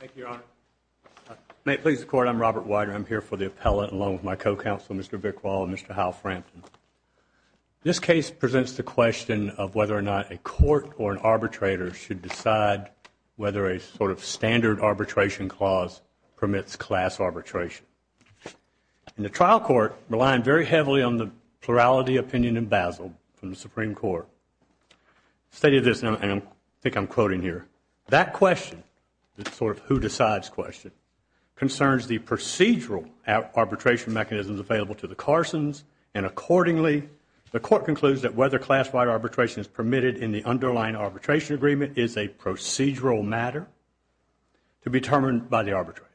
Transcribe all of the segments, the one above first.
Thank you, Your Honor. May it please the Court, I'm Robert Weider. I'm here for the appellate along with my co-counsel, Mr. Bickwall, and Mr. Hal Frampton. This case presents the question of whether or not a court or an arbitrator should decide whether a sort of standard arbitration clause permits class arbitration. And the trial court, relying very heavily on the plurality opinion in Basel from the Supreme Court, stated this, and I think I'm quoting here, that question, the sort of who decides question, concerns the procedural arbitration mechanisms available to the Carsons, and accordingly the Court concludes that whether class-wide arbitration is permitted in the underlying arbitration agreement is a procedural matter to be determined by the arbitrator.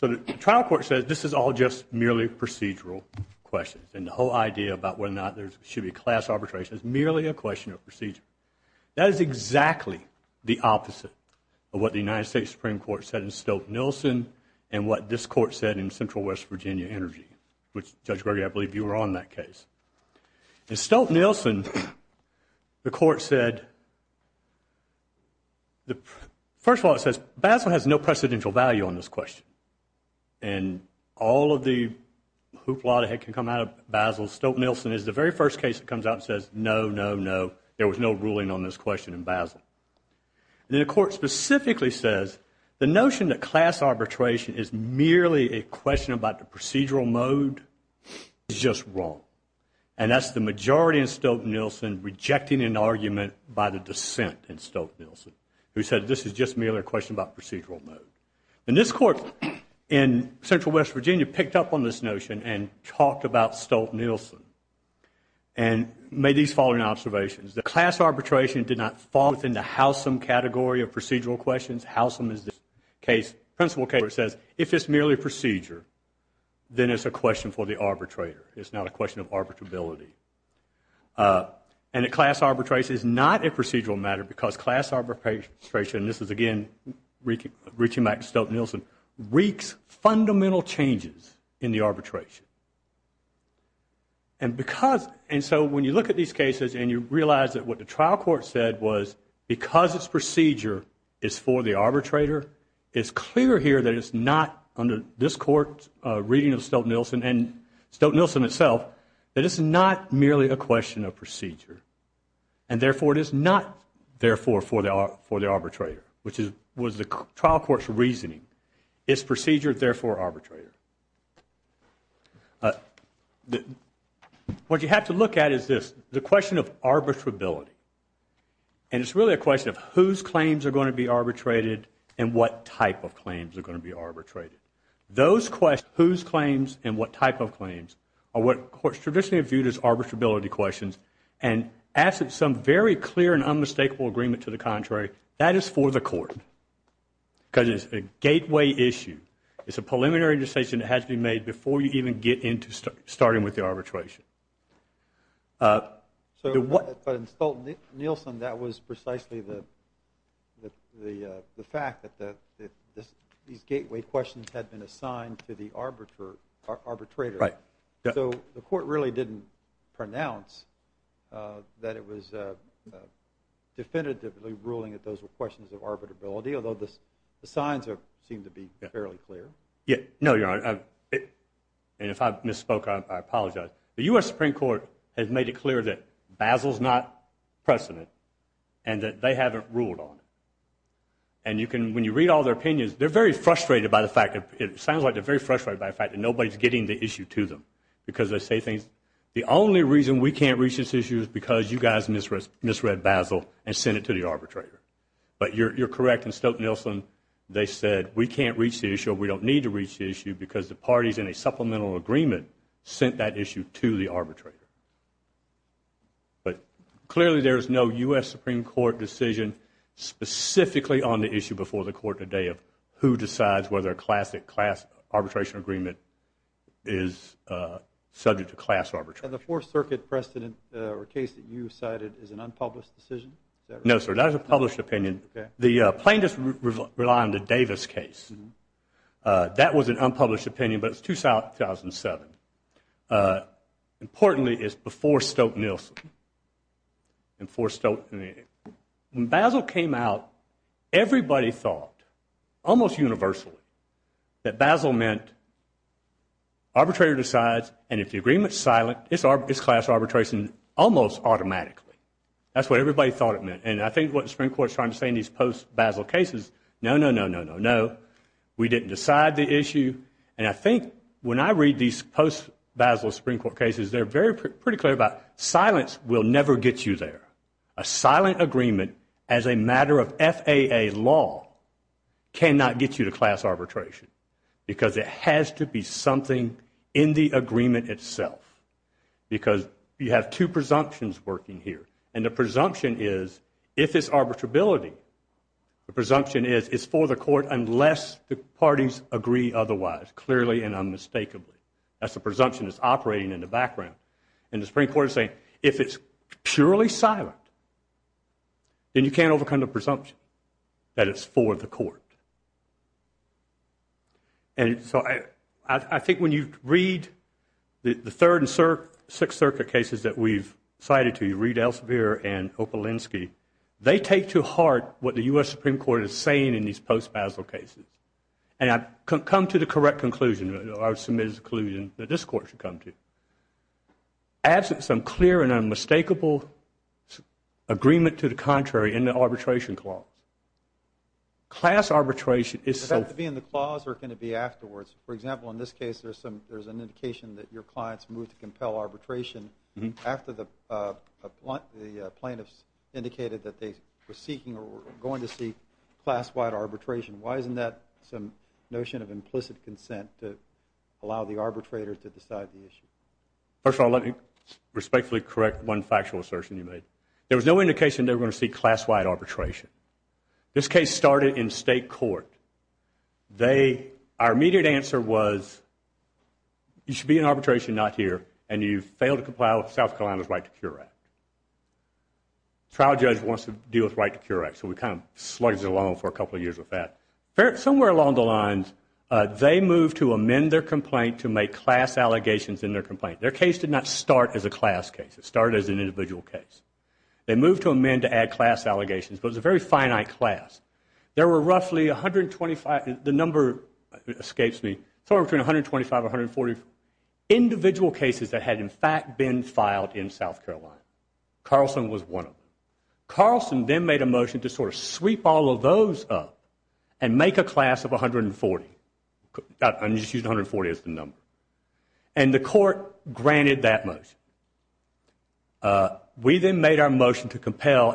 So the trial court says this is all just merely procedural questions, and the whole idea about whether or not there should be class arbitration is merely a question of procedure. That is exactly the opposite of what the United States Supreme Court said in Stolt-Nelson and what this Court said in Central West Virginia Energy, which, Judge Gregory, I believe you were on that case. In Stolt-Nelson, the Court said, first of all, it says Basel has no precedential value on this question, and all of the hoopla that can come out of Basel, Stolt-Nelson is the very first case that comes out and says, no, no, no, there was no ruling on this question in Basel. And then the Court specifically says the notion that class arbitration is merely a question about the procedural mode is just wrong, and that's the majority in Stolt-Nelson rejecting an argument by the dissent in Stolt-Nelson, who said this is just merely a question about procedural mode. And this Court in Central West Virginia picked up on this notion and talked about Stolt-Nelson and made these following observations. That class arbitration did not fall within the Howsam category of procedural questions. Howsam is the principle case where it says if it's merely a procedure, then it's a question for the arbitrator. It's not a question of arbitrability. And that class arbitration is not a procedural matter because class arbitration, and this is, again, reaching back to Stolt-Nelson, wreaks fundamental changes in the arbitration. And so when you look at these cases and you realize that what the trial court said was because it's procedure is for the arbitrator, it's clear here that it's not under this Court's reading of Stolt-Nelson and Stolt-Nelson itself that it's not merely a question of procedure. And therefore it is not therefore for the arbitrator, which was the trial court's reasoning. It's procedure, therefore arbitrator. What you have to look at is this, the question of arbitrability. And it's really a question of whose claims are going to be arbitrated and what type of claims are going to be arbitrated. Those questions, whose claims and what type of claims, are what courts traditionally have viewed as arbitrability questions and ask of some very clear and unmistakable agreement to the contrary, that is for the court. Because it's a gateway issue. It's a preliminary decision that has to be made before you even get into starting with the arbitration. But in Stolt-Nelson, that was precisely the fact that these gateway questions had been assigned to the arbitrator. Right. So the court really didn't pronounce that it was definitively ruling that those were questions of arbitrability, although the signs seem to be fairly clear. No, Your Honor. And if I misspoke, I apologize. The U.S. Supreme Court has made it clear that Basel's not precedent and that they haven't ruled on it. And when you read all their opinions, they're very frustrated by the fact, it sounds like they're very frustrated by the fact that nobody's getting the issue to them because they say things, the only reason we can't reach this issue is because you guys misread Basel and sent it to the arbitrator. But you're correct in Stolt-Nelson. They said we can't reach the issue, we don't need to reach the issue, because the parties in a supplemental agreement sent that issue to the arbitrator. But clearly there is no U.S. Supreme Court decision specifically on the issue before the court today of who decides whether a classic class arbitration agreement is subject to class arbitration. And the Fourth Circuit precedent or case that you cited is an unpublished decision? No, sir, that is a published opinion. The plaintiffs rely on the Davis case. That was an unpublished opinion, but it's 2007. Importantly, it's before Stolt-Nelson. When Basel came out, everybody thought, almost universally, that Basel meant arbitrator decides, and if the agreement's silent, it's class arbitration almost automatically. That's what everybody thought it meant. And I think what the Supreme Court is trying to say in these post-Basel cases, no, no, no, no, no, no, we didn't decide the issue. And I think when I read these post-Basel Supreme Court cases, they're pretty clear about silence will never get you there. A silent agreement as a matter of FAA law cannot get you to class arbitration because it has to be something in the agreement itself. Because you have two presumptions working here, and the presumption is, if it's arbitrability, the presumption is it's for the court unless the parties agree otherwise, clearly and unmistakably. That's the presumption that's operating in the background. And the Supreme Court is saying, if it's purely silent, then you can't overcome the presumption that it's for the court. And so I think when you read the Third and Sixth Circuit cases that we've cited to you, Reid Elsevier and Opolinsky, they take to heart what the U.S. Supreme Court is saying in these post-Basel cases. And I've come to the correct conclusion, or I've submitted the conclusion that this court should come to. Adds some clear and unmistakable agreement to the contrary in the arbitration clause. Class arbitration is so- Does it have to be in the clause or can it be afterwards? For example, in this case, there's an indication that your clients moved to compel arbitration after the plaintiffs indicated that they were seeking or were going to seek class-wide arbitration. Why isn't that some notion of implicit consent to allow the arbitrator to decide the issue? First of all, let me respectfully correct one factual assertion you made. There was no indication they were going to seek class-wide arbitration. This case started in state court. Our immediate answer was, you should be in arbitration, not here, and you failed to comply with South Carolina's Right to Cure Act. The trial judge wants to deal with Right to Cure Act, so we kind of slugged it along for a couple of years with that. Somewhere along the lines, they moved to amend their complaint to make class allegations in their complaint. Their case did not start as a class case. It started as an individual case. They moved to amend to add class allegations, but it was a very finite class. There were roughly 125- Carlson was one of them. Carlson then made a motion to sort of sweep all of those up and make a class of 140. I'm just using 140 as the number. And the court granted that motion. We then made our motion to compel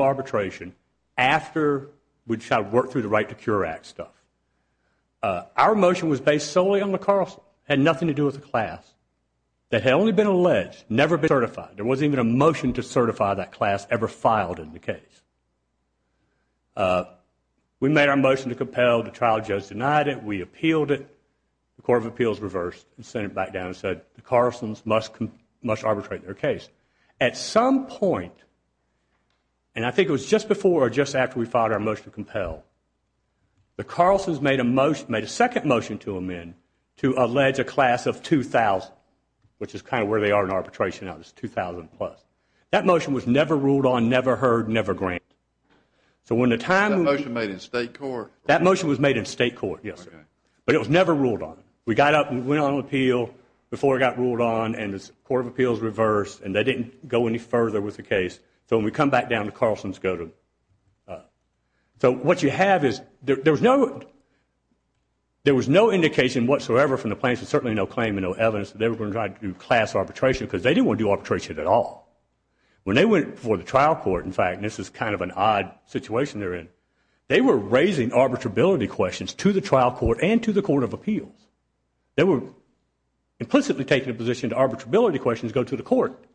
arbitration after we'd worked through the Right to Cure Act stuff. Our motion was based solely on the Carlson. It had nothing to do with the class. It had only been alleged, never been certified. There wasn't even a motion to certify that class ever filed in the case. We made our motion to compel. The trial judge denied it. We appealed it. The Court of Appeals reversed and sent it back down and said the Carlsons must arbitrate their case. At some point, and I think it was just before or just after we filed our motion to compel, the Carlsons made a second motion to amend to allege a class of 2,000, which is kind of where they are in arbitration now. It's 2,000 plus. That motion was never ruled on, never heard, never granted. That motion was made in state court? That motion was made in state court, yes, sir. But it was never ruled on. We got up and went on appeal before it got ruled on, and the Court of Appeals reversed, and they didn't go any further with the case. So when we come back down, the Carlsons go to. So what you have is there was no indication whatsoever from the plaintiffs, and certainly no claim and no evidence, that they were going to try to do class arbitration because they didn't want to do arbitration at all. When they went before the trial court, in fact, and this is kind of an odd situation they're in, they were raising arbitrability questions to the trial court and to the Court of Appeals. They were implicitly taking a position that arbitrability questions go to the court,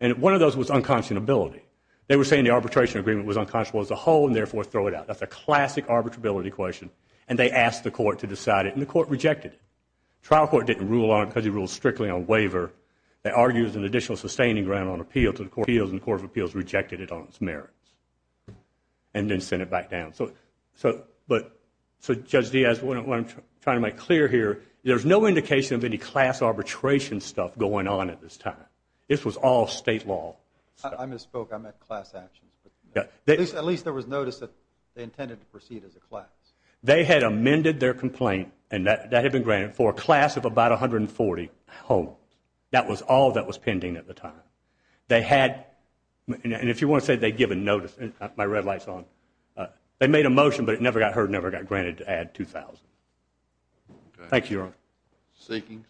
and one of those was unconscionability. They were saying the arbitration agreement was unconscionable as a whole and therefore throw it out. That's a classic arbitrability question, and they asked the court to decide it, and the court rejected it. The trial court didn't rule on it because he ruled strictly on waiver. They argued an additional sustaining grant on appeal to the Court of Appeals, and the Court of Appeals rejected it on its merits and then sent it back down. So Judge Diaz, what I'm trying to make clear here, there's no indication of any class arbitration stuff going on at this time. This was all state law. I misspoke. I meant class actions. At least there was notice that they intended to proceed as a class. They had amended their complaint, and that had been granted for a class of about 140 homes. That was all that was pending at the time. They had, and if you want to say they'd given notice, my red light's on, they made a motion but it never got heard, never got granted to add 2,000. Thank you, Your Honor. Seekings.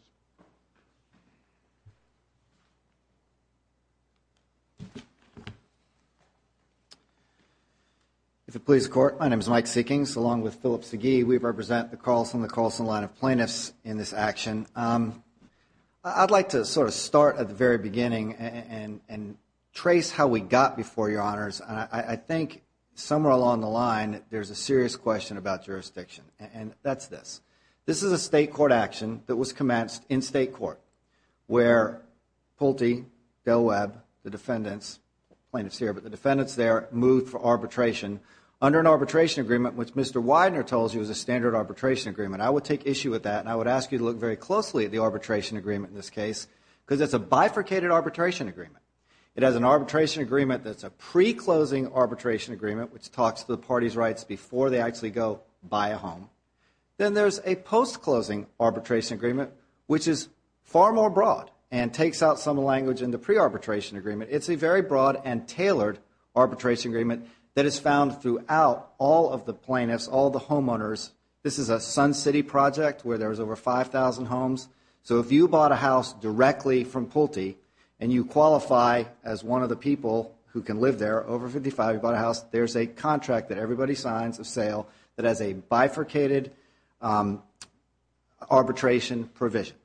If it pleases the Court, my name is Mike Seekings, along with Philip Segee. We represent the Carlson & Carlson line of plaintiffs in this action. I'd like to sort of start at the very beginning and trace how we got before Your Honors. I think somewhere along the line there's a serious question about jurisdiction, and that's this. This is a state court action that was commenced in state court where Pulte, Del Webb, the defendants, plaintiffs here, but the defendants there moved for arbitration under an arbitration agreement, which Mr. Widener tells you is a standard arbitration agreement. I would take issue with that, and I would ask you to look very closely at the arbitration agreement in this case because it's a bifurcated arbitration agreement. It has an arbitration agreement that's a pre-closing arbitration agreement which talks to the party's rights before they actually go buy a home. Then there's a post-closing arbitration agreement, which is far more broad and takes out some of the language in the pre-arbitration agreement. It's a very broad and tailored arbitration agreement that is found throughout all of the plaintiffs, all the homeowners. This is a Sun City project where there's over 5,000 homes. So if you bought a house directly from Pulte and you qualify as one of the people who can live there, there's a contract that everybody signs of sale that has a bifurcated arbitration provision.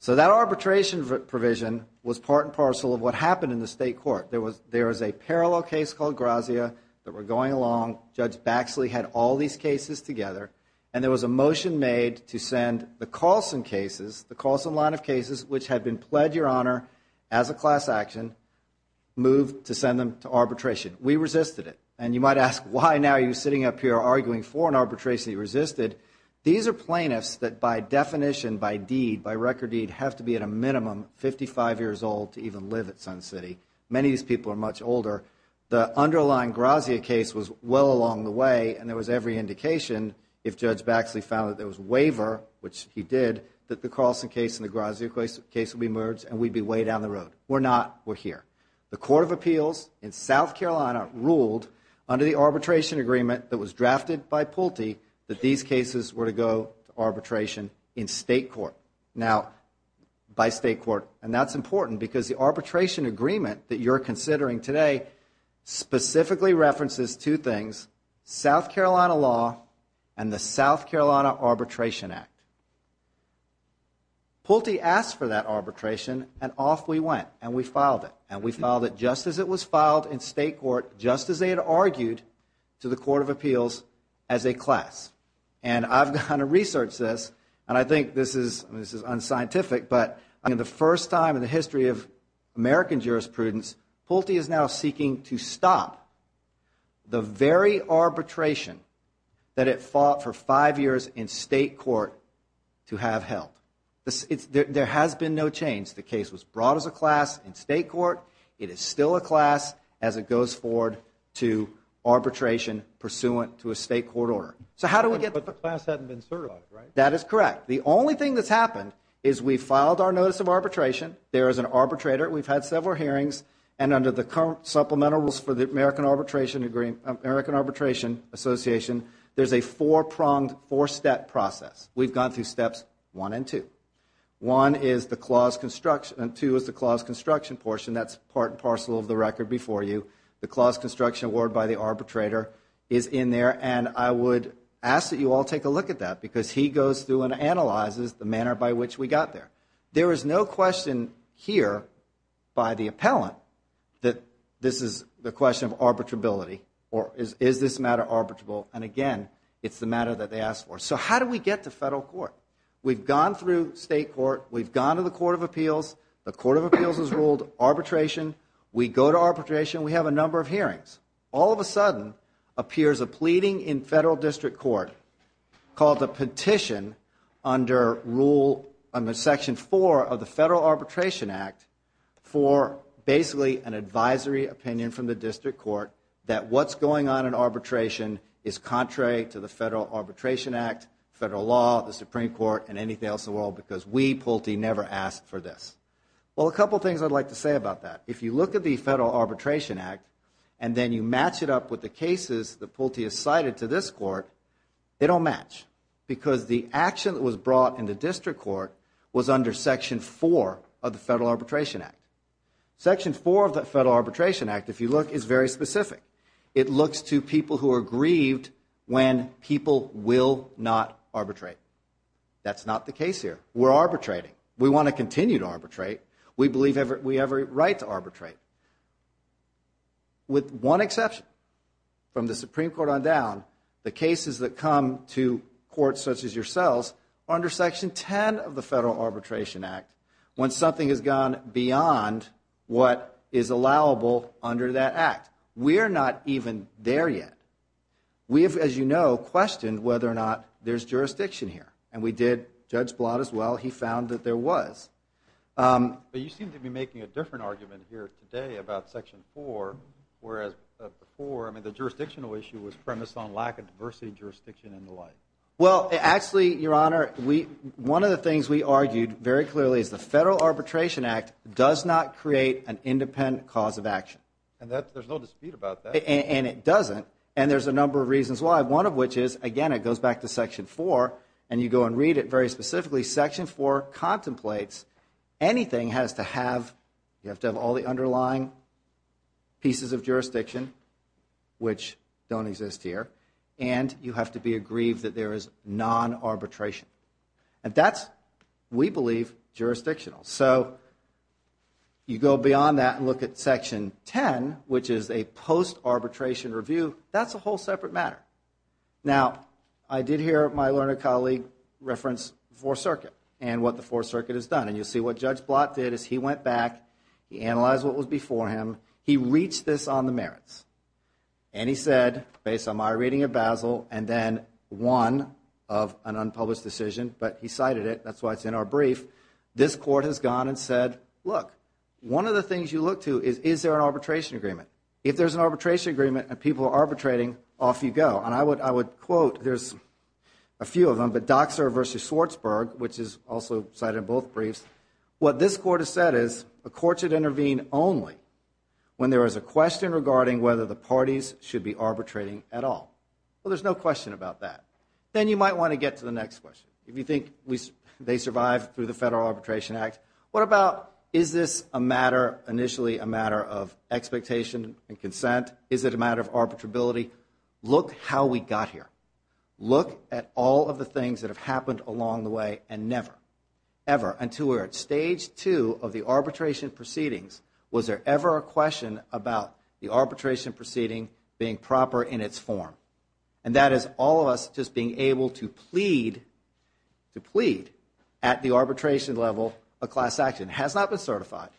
So that arbitration provision was part and parcel of what happened in the state court. There was a parallel case called Grazia that were going along. Judge Baxley had all these cases together, and there was a motion made to send the Carlson cases, the Carlson line of cases, which had been pled your honor as a class action, moved to send them to arbitration. We resisted it. And you might ask, why now are you sitting up here arguing for an arbitration that you resisted? These are plaintiffs that by definition, by deed, by record deed, have to be at a minimum 55 years old to even live at Sun City. Many of these people are much older. The underlying Grazia case was well along the way, and there was every indication if Judge Baxley found that there was waiver, which he did, that the Carlson case and the Grazia case would be merged and we'd be way down the road. We're not. We're here. The Court of Appeals in South Carolina ruled under the arbitration agreement that was drafted by Pulte that these cases were to go to arbitration in state court. Now, by state court, and that's important because the arbitration agreement that you're considering today specifically references two things, South Carolina law and the South Carolina Arbitration Act. Pulte asked for that arbitration, and off we went, and we filed it, and we filed it just as it was filed in state court, just as they had argued to the Court of Appeals as a class. And I've gone to research this, and I think this is unscientific, but in the first time in the history of American jurisprudence, Pulte is now seeking to stop the very arbitration that it fought for five years in state court to have held. There has been no change. The case was brought as a class in state court. It is still a class as it goes forward to arbitration pursuant to a state court order. But the class hadn't been certified, right? That is correct. The only thing that's happened is we filed our notice of arbitration. There is an arbitrator. We've had several hearings, and under the current supplemental rules for the American Arbitration Association, there's a four-pronged, four-step process. We've gone through steps one and two. One is the clause construction, and two is the clause construction portion. That's part and parcel of the record before you. The clause construction award by the arbitrator is in there, and I would ask that you all take a look at that because he goes through and analyzes the manner by which we got there. There is no question here by the appellant that this is the question of arbitrability or is this matter arbitrable, and, again, it's the matter that they asked for. So how do we get to federal court? We've gone through state court. We've gone to the Court of Appeals. The Court of Appeals has ruled arbitration. We go to arbitration. We have a number of hearings. All of a sudden appears a pleading in federal district court called the petition under rule section 4 of the Federal Arbitration Act for basically an advisory opinion from the district court that what's going on in arbitration is contrary to the Federal Arbitration Act, federal law, the Supreme Court, and anything else in the world because we, Pulte, never asked for this. Well, a couple of things I'd like to say about that. If you look at the Federal Arbitration Act and then you match it up with the cases that Pulte has cited to this court, they don't match because the action that was brought in the district court was under section 4 of the Federal Arbitration Act. Section 4 of the Federal Arbitration Act, if you look, is very specific. It looks to people who are grieved when people will not arbitrate. That's not the case here. We're arbitrating. We want to continue to arbitrate. We believe we have a right to arbitrate. With one exception, from the Supreme Court on down, the cases that come to courts such as yourselves are under section 10 of the Federal Arbitration Act when something has gone beyond what is allowable under that act. We are not even there yet. We have, as you know, questioned whether or not there's jurisdiction here. And we did. Judge Blatt as well, he found that there was. But you seem to be making a different argument here today about section 4 whereas before, I mean, the jurisdictional issue was premised on lack of diversity jurisdiction and the like. Well, actually, Your Honor, one of the things we argued very clearly is the Federal Arbitration Act does not create an independent cause of action. And there's no dispute about that. And it doesn't, and there's a number of reasons why. One of which is, again, it goes back to section 4, and you go and read it very specifically. Section 4 contemplates anything has to have, you have to have all the underlying pieces of jurisdiction which don't exist here, and you have to be aggrieved that there is non-arbitration. And that's, we believe, jurisdictional. So you go beyond that and look at section 10, which is a post-arbitration review. That's a whole separate matter. Now, I did hear my learned colleague reference the Fourth Circuit and what the Fourth Circuit has done. And you see what Judge Blatt did is he went back, he analyzed what was before him, he reached this on the merits. And he said, based on my reading of Basil, and then one of an unpublished decision, but he cited it, that's why it's in our brief, this court has gone and said, look, one of the things you look to is, is there an arbitration agreement? If there's an arbitration agreement and people are arbitrating, off you go. And I would quote, there's a few of them, but Doxer v. Schwartzberg, which is also cited in both briefs, what this court has said is, a court should intervene only when there is a question regarding whether the parties should be arbitrating at all. Well, there's no question about that. Then you might want to get to the next question. If you think they survived through the Federal Arbitration Act, what about, is this a matter, initially a matter of expectation and consent? Is it a matter of arbitrability? Look how we got here. Look at all of the things that have happened along the way and never, ever, until we're at stage two of the arbitration proceedings, was there ever a question about the arbitration proceeding being proper in its form? And that is all of us just being able to plead, to plead at the arbitration level a class action. It has not been certified.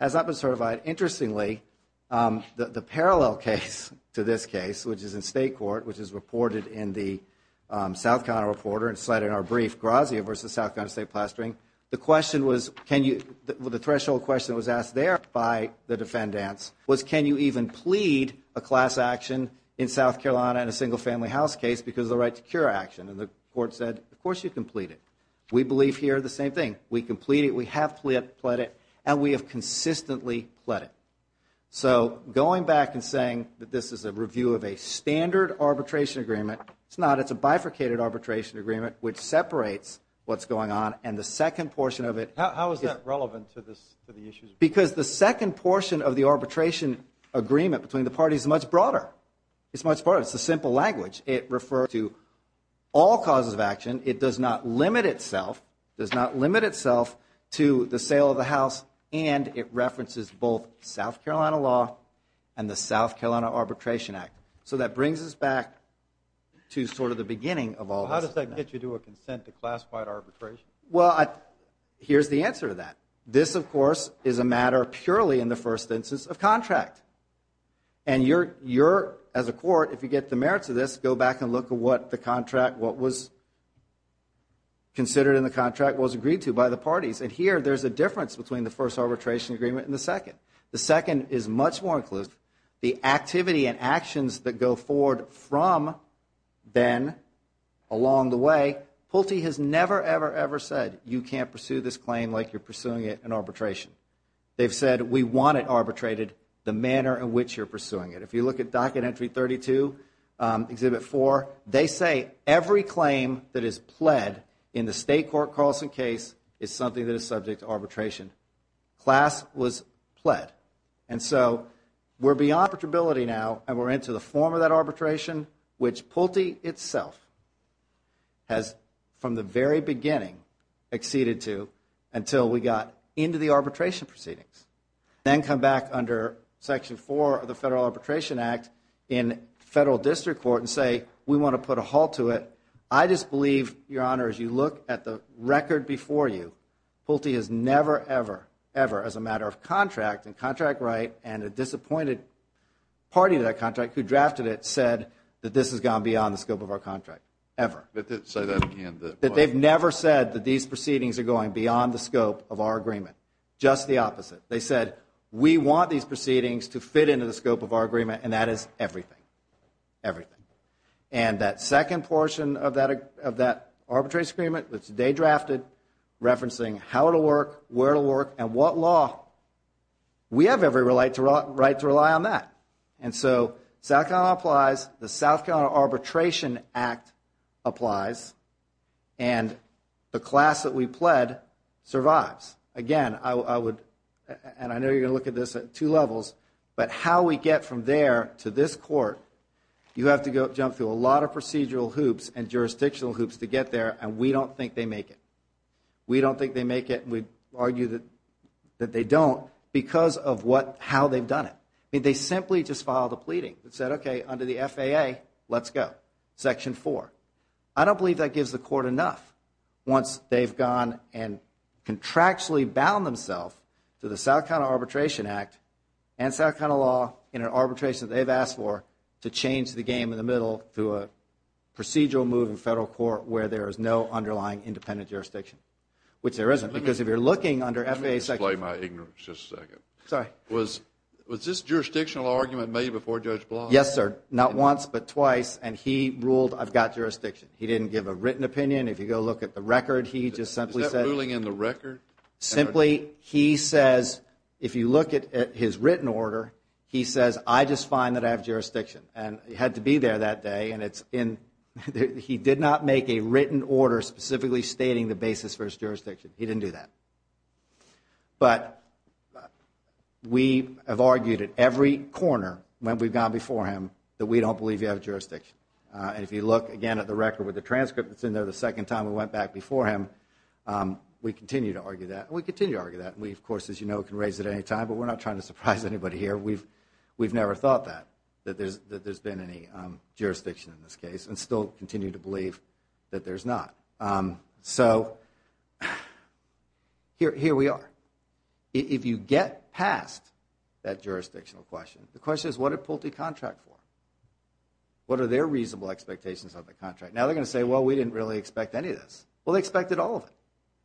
It has not been certified. Interestingly, the parallel case to this case, which is in state court, which is reported in the South Carolina Reporter and cited in our brief, Grazia v. South Carolina State Plastering, the question was, the threshold question that was asked there by the defendants was can you even plead a class action in South Carolina in a single family house case because of the right to cure action? And the court said, of course you can plead it. We believe here the same thing. We can plead it. We have plead it, and we have consistently plead it. So going back and saying that this is a review of a standard arbitration agreement, it's not. It's a bifurcated arbitration agreement which separates what's going on, and the second portion of it. How is that relevant to the issue? Because the second portion of the arbitration agreement between the parties is much broader. It's much broader. It's a simple language. It refers to all causes of action. It does not limit itself, does not limit itself to the sale of the house, and it references both South Carolina law and the South Carolina Arbitration Act. So that brings us back to sort of the beginning of all this. How does that get you to a consent to classified arbitration? Well, here's the answer to that. This, of course, is a matter purely in the first instance of contract, and you're, as a court, if you get the merits of this, go back and look at what the contract, what was considered in the contract was agreed to by the parties, and here there's a difference between the first arbitration agreement and the second. The second is much more inclusive. The activity and actions that go forward from then along the way, Pulte has never, ever, ever said you can't pursue this claim like you're pursuing it in arbitration. They've said we want it arbitrated. The manner in which you're pursuing it. If you look at Docket Entry 32, Exhibit 4, they say every claim that is pled in the state court Carlson case is something that is subject to arbitration. Class was pled, and so we're beyond arbitrability now, and we're into the form of that arbitration, which Pulte itself has, from the very beginning, acceded to until we got into the arbitration proceedings. Then come back under Section 4 of the Federal Arbitration Act in federal district court and say we want to put a halt to it. I just believe, Your Honor, as you look at the record before you, Pulte has never, ever, ever, as a matter of contract and contract right and a disappointed party to that contract who drafted it said that this has gone beyond the scope of our contract, ever. Say that again. That they've never said that these proceedings are going beyond the scope of our agreement. Just the opposite. They said we want these proceedings to fit into the scope of our agreement, and that is everything. Everything. And that second portion of that arbitration agreement that they drafted referencing how it'll work, where it'll work, and what law, we have every right to rely on that. And so South Carolina applies, the South Carolina Arbitration Act applies, and the class that we pled survives. Again, I would, and I know you're going to look at this at two levels, but how we get from there to this court, you have to jump through a lot of procedural hoops and jurisdictional hoops to get there, and we don't think they make it. We don't think they make it, and we argue that they don't because of how they've done it. They simply just filed a pleading that said, okay, under the FAA, let's go. Section four. I don't believe that gives the court enough once they've gone and contractually bound themselves to the South Carolina Arbitration Act and South Carolina law in an arbitration that they've asked for to change the game in the middle to a procedural move in federal court where there is no underlying independent jurisdiction, which there isn't because if you're looking under FAA section... Let me display my ignorance just a second. Sorry. Was this jurisdictional argument made before Judge Block? Yes, sir. Not once, but twice, and he ruled I've got jurisdiction. He didn't give a written opinion. If you go look at the record, he just simply said... Is that ruling in the record? Simply, he says, if you look at his written order, he says, I just find that I have jurisdiction, and he had to be there that day, and he did not make a written order specifically stating the basis for his jurisdiction. He didn't do that. But we have argued at every corner when we've gone before him that we don't believe you have jurisdiction, and if you look, again, at the record with the transcript that's in there the second time we went back before him, we continue to argue that, and we continue to argue that, and we, of course, as you know, can raise it at any time, but we're not trying to surprise anybody here. We've never thought that, that there's been any jurisdiction in this case and still continue to believe that there's not. So here we are. If you get past that jurisdictional question, the question is what did Pulte contract for? What are their reasonable expectations of the contract? Now they're going to say, well, we didn't really expect any of this. Well, they expected all of it,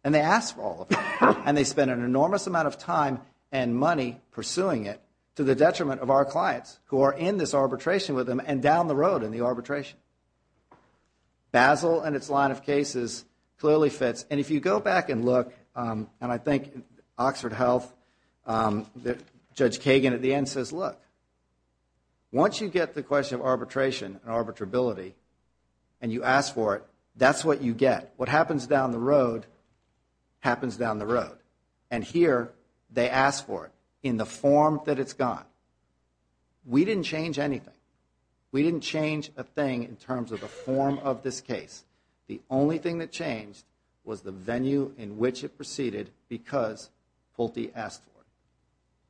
and they asked for all of it, and they spent an enormous amount of time and money pursuing it to the detriment of our clients who are in this arbitration with him and down the road in the arbitration. Basel and its line of cases clearly fits, and if you go back and look, and I think Oxford Health, Judge Kagan at the end says, look, once you get the question of arbitration and arbitrability and you ask for it, that's what you get. What happens down the road happens down the road, and here they ask for it in the form that it's gone. We didn't change anything. We didn't change a thing in terms of the form of this case. The only thing that changed was the venue in which it proceeded because Pulte asked for it.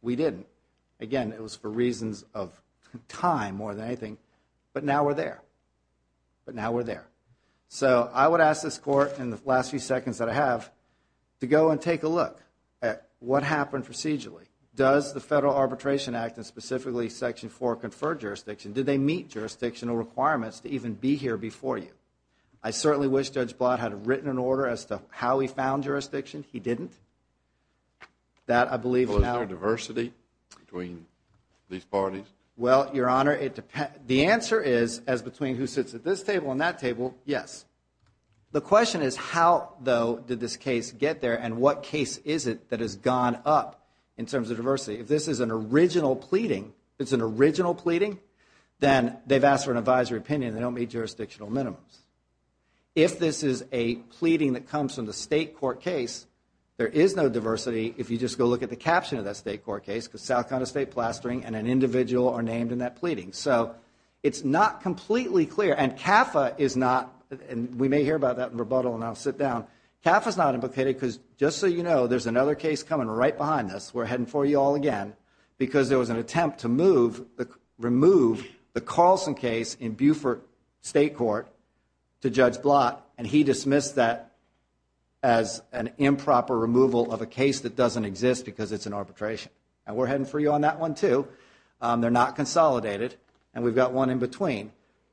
We didn't. Again, it was for reasons of time more than anything, but now we're there, but now we're there. So I would ask this Court in the last few seconds that I have to go and take a look at what happened procedurally. Does the Federal Arbitration Act and specifically Section 4 confer jurisdiction? Did they meet jurisdictional requirements to even be here before you? I certainly wish Judge Blatt had written an order as to how he found jurisdiction. He didn't. That, I believe, now... Well, is there diversity between these parties? Well, Your Honor, the answer is, as between who sits at this table and that table, yes. The question is, how, though, did this case get there and what case is it that has gone up in terms of diversity? If this is an original pleading, if it's an original pleading, then they've asked for an advisory opinion and they don't meet jurisdictional minimums. If this is a pleading that comes from the State court case, there is no diversity if you just go look at the caption of that State court case, because South Carolina State plastering and an individual are named in that pleading. So it's not completely clear. And CAFA is not... And we may hear about that in rebuttal and I'll sit down. CAFA's not implicated because, just so you know, there's another case coming right behind us. We're heading for you all again because there was an attempt to remove the Carlson case in Buford State Court to Judge Blatt, and he dismissed that as an improper removal of a case that doesn't exist because it's an arbitration. And we're heading for you on that one too. They're not consolidated, and we've got one in between.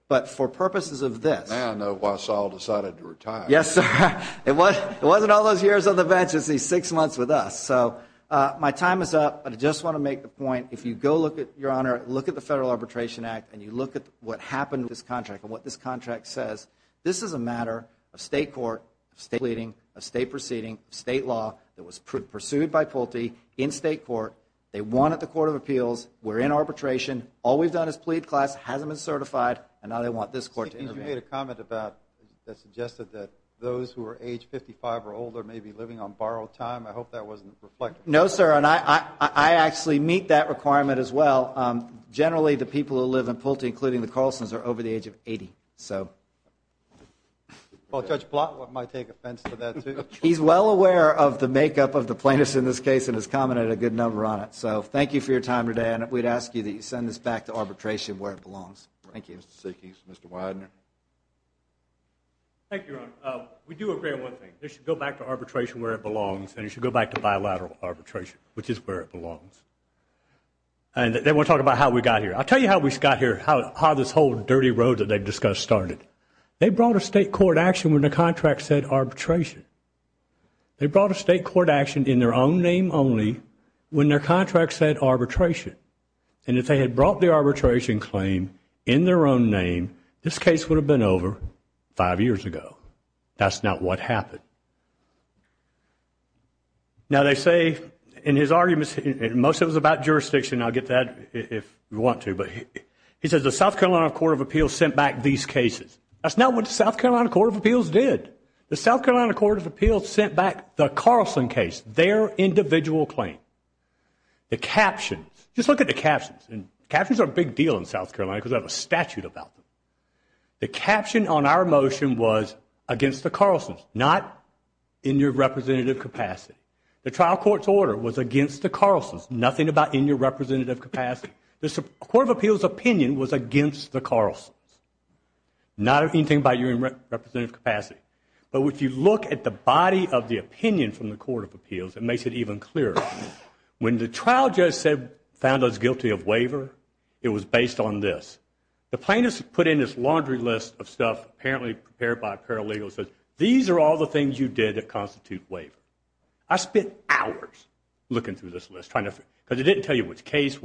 But for purposes of this... Now I know why Saul decided to retire. Yes, sir. It wasn't all those years on the bench, it's these six months with us. So my time is up, but I just want to make the point, if you go look at, Your Honor, look at the Federal Arbitration Act and you look at what happened with this contract and what this contract says, this is a matter of State court, of State pleading, of State proceeding, of State law, that was pursued by Pulte in State court. They won at the Court of Appeals. We're in arbitration. All we've done is plead class, hasn't been certified, and now they want this court to intervene. You made a comment about... that suggested that those who are age 55 or older may be living on borrowed time. I hope that wasn't reflected. No, sir, and I actually meet that requirement as well. Generally, the people who live in Pulte, including the Carlsons, are over the age of 80, so... Well, Judge Blatt might take offense to that, too. He's well aware of the makeup of the plaintiffs in this case and has commented a good number on it. So thank you for your time today, and we'd ask you that you send this back to arbitration where it belongs. Thank you. Thank you, Mr. Widener. Thank you, Your Honor. We do agree on one thing. This should go back to arbitration where it belongs, and it should go back to bilateral arbitration, which is where it belongs. And then we'll talk about how we got here. I'll tell you how we got here, how this whole dirty road that they've discussed started. They brought a state court action when the contract said arbitration. They brought a state court action in their own name only when their contract said arbitration. And if they had brought the arbitration claim in their own name, this case would have been over five years ago. That's not what happened. Now, they say in his arguments, most of it was about jurisdiction. I'll get to that if you want to. He says the South Carolina Court of Appeals sent back these cases. That's not what the South Carolina Court of Appeals did. The South Carolina Court of Appeals sent back the Carlson case, their individual claim. The captions, just look at the captions, and captions are a big deal in South Carolina because they have a statute about them. The caption on our motion was against the Carlsons, not in your representative capacity. The trial court's order was against the Carlsons, nothing about in your representative capacity. The Court of Appeals' opinion was against the Carlsons, not anything about your representative capacity. But if you look at the body of the opinion from the Court of Appeals, it makes it even clearer. When the trial judge found us guilty of waiver, it was based on this. The plaintiffs put in this laundry list of stuff, apparently prepared by a paralegal, and said these are all the things you did that constitute waiver. I spent hours looking through this list, because it didn't tell you which case.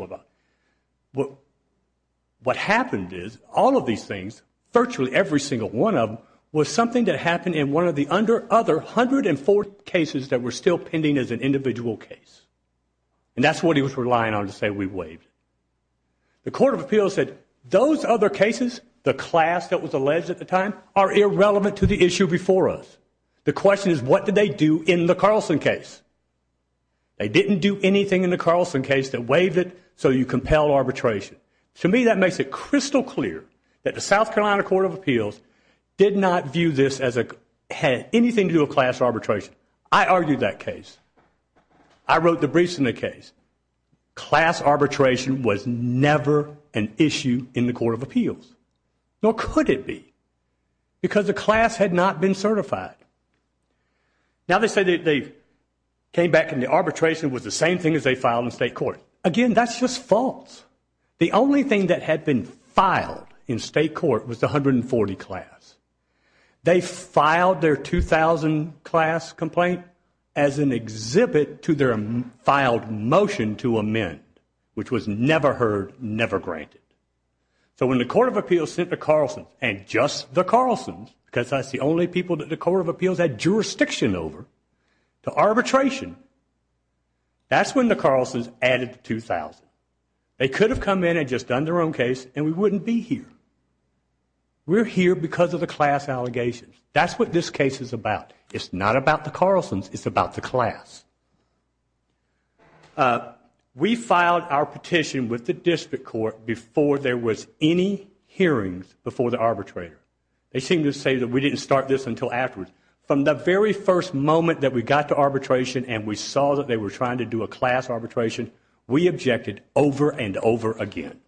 What happened is all of these things, virtually every single one of them, was something that happened in one of the other 104 cases that were still pending as an individual case. And that's what he was relying on to say we waived. The Court of Appeals said those other cases, the class that was alleged at the time, are irrelevant to the issue before us. The question is what did they do in the Carlson case? They didn't do anything in the Carlson case that waived it, so you compel arbitration. To me that makes it crystal clear that the South Carolina Court of Appeals did not view this as it had anything to do with class arbitration. I argued that case. I wrote the briefs in the case. Class arbitration was never an issue in the Court of Appeals, nor could it be, because the class had not been certified. Now they say they came back and the arbitration was the same thing as they filed in state court. Again, that's just false. The only thing that had been filed in state court was the 140 class. They filed their 2,000 class complaint as an exhibit to their filed motion to amend, which was never heard, never granted. So when the Court of Appeals sent the Carlsons, and just the Carlsons, because that's the only people that the Court of Appeals had jurisdiction over, to arbitration, that's when the Carlsons added the 2,000. They could have come in and just done their own case and we wouldn't be here. We're here because of the class allegations. That's what this case is about. It's not about the Carlsons. It's about the class. We filed our petition with the district court before there was any hearings before the arbitrator. They seem to say that we didn't start this until afterwards. From the very first moment that we got to arbitration and we saw that they were trying to do a class arbitration, we objected over and over again.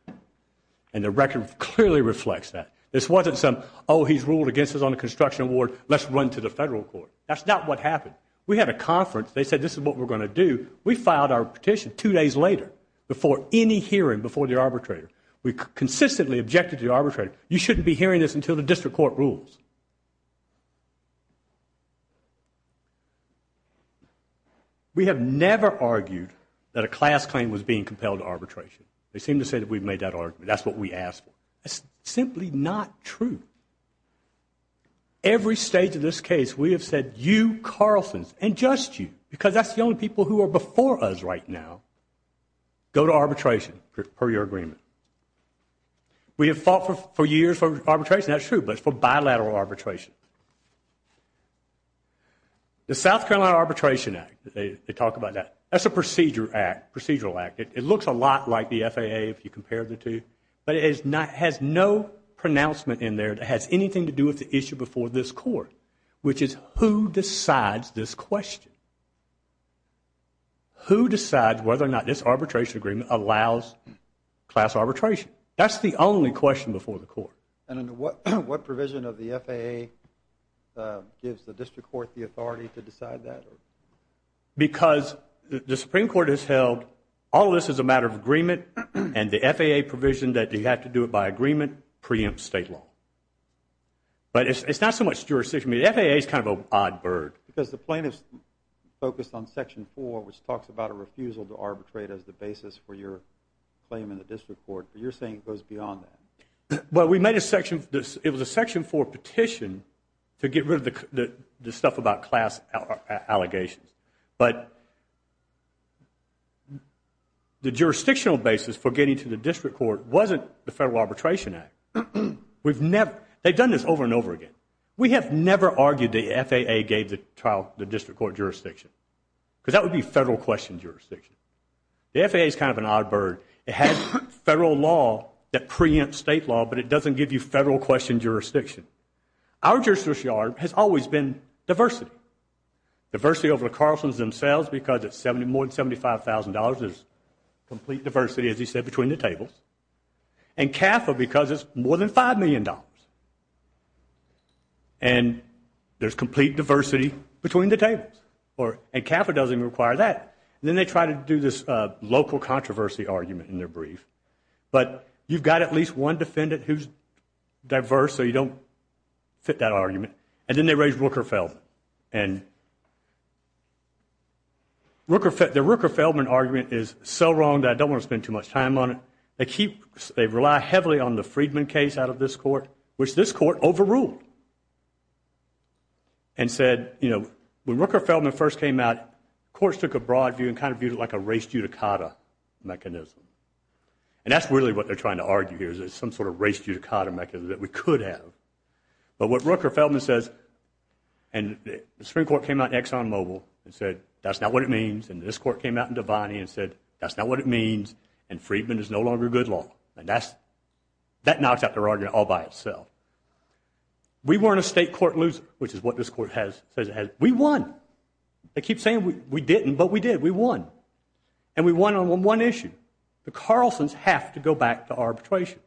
And the record clearly reflects that. This wasn't some, oh, he's ruled against us on the construction award, let's run to the federal court. That's not what happened. We had a conference. They said this is what we're going to do. We filed our petition two days later before any hearing before the arbitrator. We consistently objected to the arbitrator. You shouldn't be hearing this until the district court rules. We have never argued that a class claim was being compelled to arbitration. They seem to say that we've made that argument. That's what we asked for. That's simply not true. Every stage of this case, we have said, you Carlsons and just you, because that's the only people who are before us right now, go to arbitration per your agreement. We have fought for years for arbitration. That's true, but it's for bilateral arbitration. The South Carolina Arbitration Act, they talk about that. That's a procedural act. It looks a lot like the FAA if you compare the two, but it has no pronouncement in there that has anything to do with the issue before this court, which is who decides this question. Who decides whether or not this arbitration agreement allows class arbitration? That's the only question before the court. And what provision of the FAA gives the district court the authority to decide that? Because the Supreme Court has held all of this is a matter of agreement, and the FAA provision that you have to do it by agreement preempts state law. But it's not so much jurisdiction. The FAA is kind of an odd bird. Because the plaintiffs focused on Section 4, which talks about a refusal to arbitrate as the basis for your claim in the district court. But you're saying it goes beyond that. Well, it was a Section 4 petition to get rid of the stuff about class allegations. But the jurisdictional basis for getting to the district court wasn't the Federal Arbitration Act. They've done this over and over again. We have never argued the FAA gave the district court jurisdiction, because that would be The FAA is kind of an odd bird. It has federal law that preempts state law, but it doesn't give you federal question jurisdiction. Our jurisdiction has always been diversity. Diversity over the Carlsons themselves, because it's more than $75,000. There's complete diversity, as you said, between the tables. And CAFA, because it's more than $5 million. And there's complete diversity between the tables. And CAFA doesn't even require that. And then they try to do this local controversy argument in their brief. But you've got at least one defendant who's diverse, so you don't fit that argument. And then they raise Rooker-Feldman. The Rooker-Feldman argument is so wrong that I don't want to spend too much time on it. They rely heavily on the Friedman case out of this court, which this court overruled and said, you know, when Rooker-Feldman first came out, courts took a broad view and kind of viewed it like a race judicata mechanism. And that's really what they're trying to argue here, is there's some sort of race judicata mechanism that we could have. But what Rooker-Feldman says, and the Supreme Court came out in Exxon Mobil and said, that's not what it means. And this court came out in Devaney and said, that's not what it means. And Friedman is no longer good law. And that knocks out their argument all by itself. We weren't a state court loser, which is what this court has, says it has. We won. They keep saying we didn't, but we did. We won. And we won on one issue. The Carlsons have to go back to arbitration.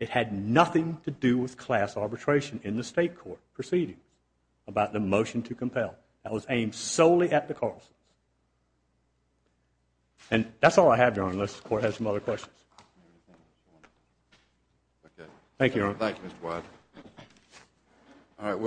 It had nothing to do with class arbitration in the state court proceeding about the motion to compel. That was aimed solely at the Carlsons. And that's all I have, Your Honor, unless the court has some other questions. Thank you, Your Honor. Thank you, Mr. Wyden.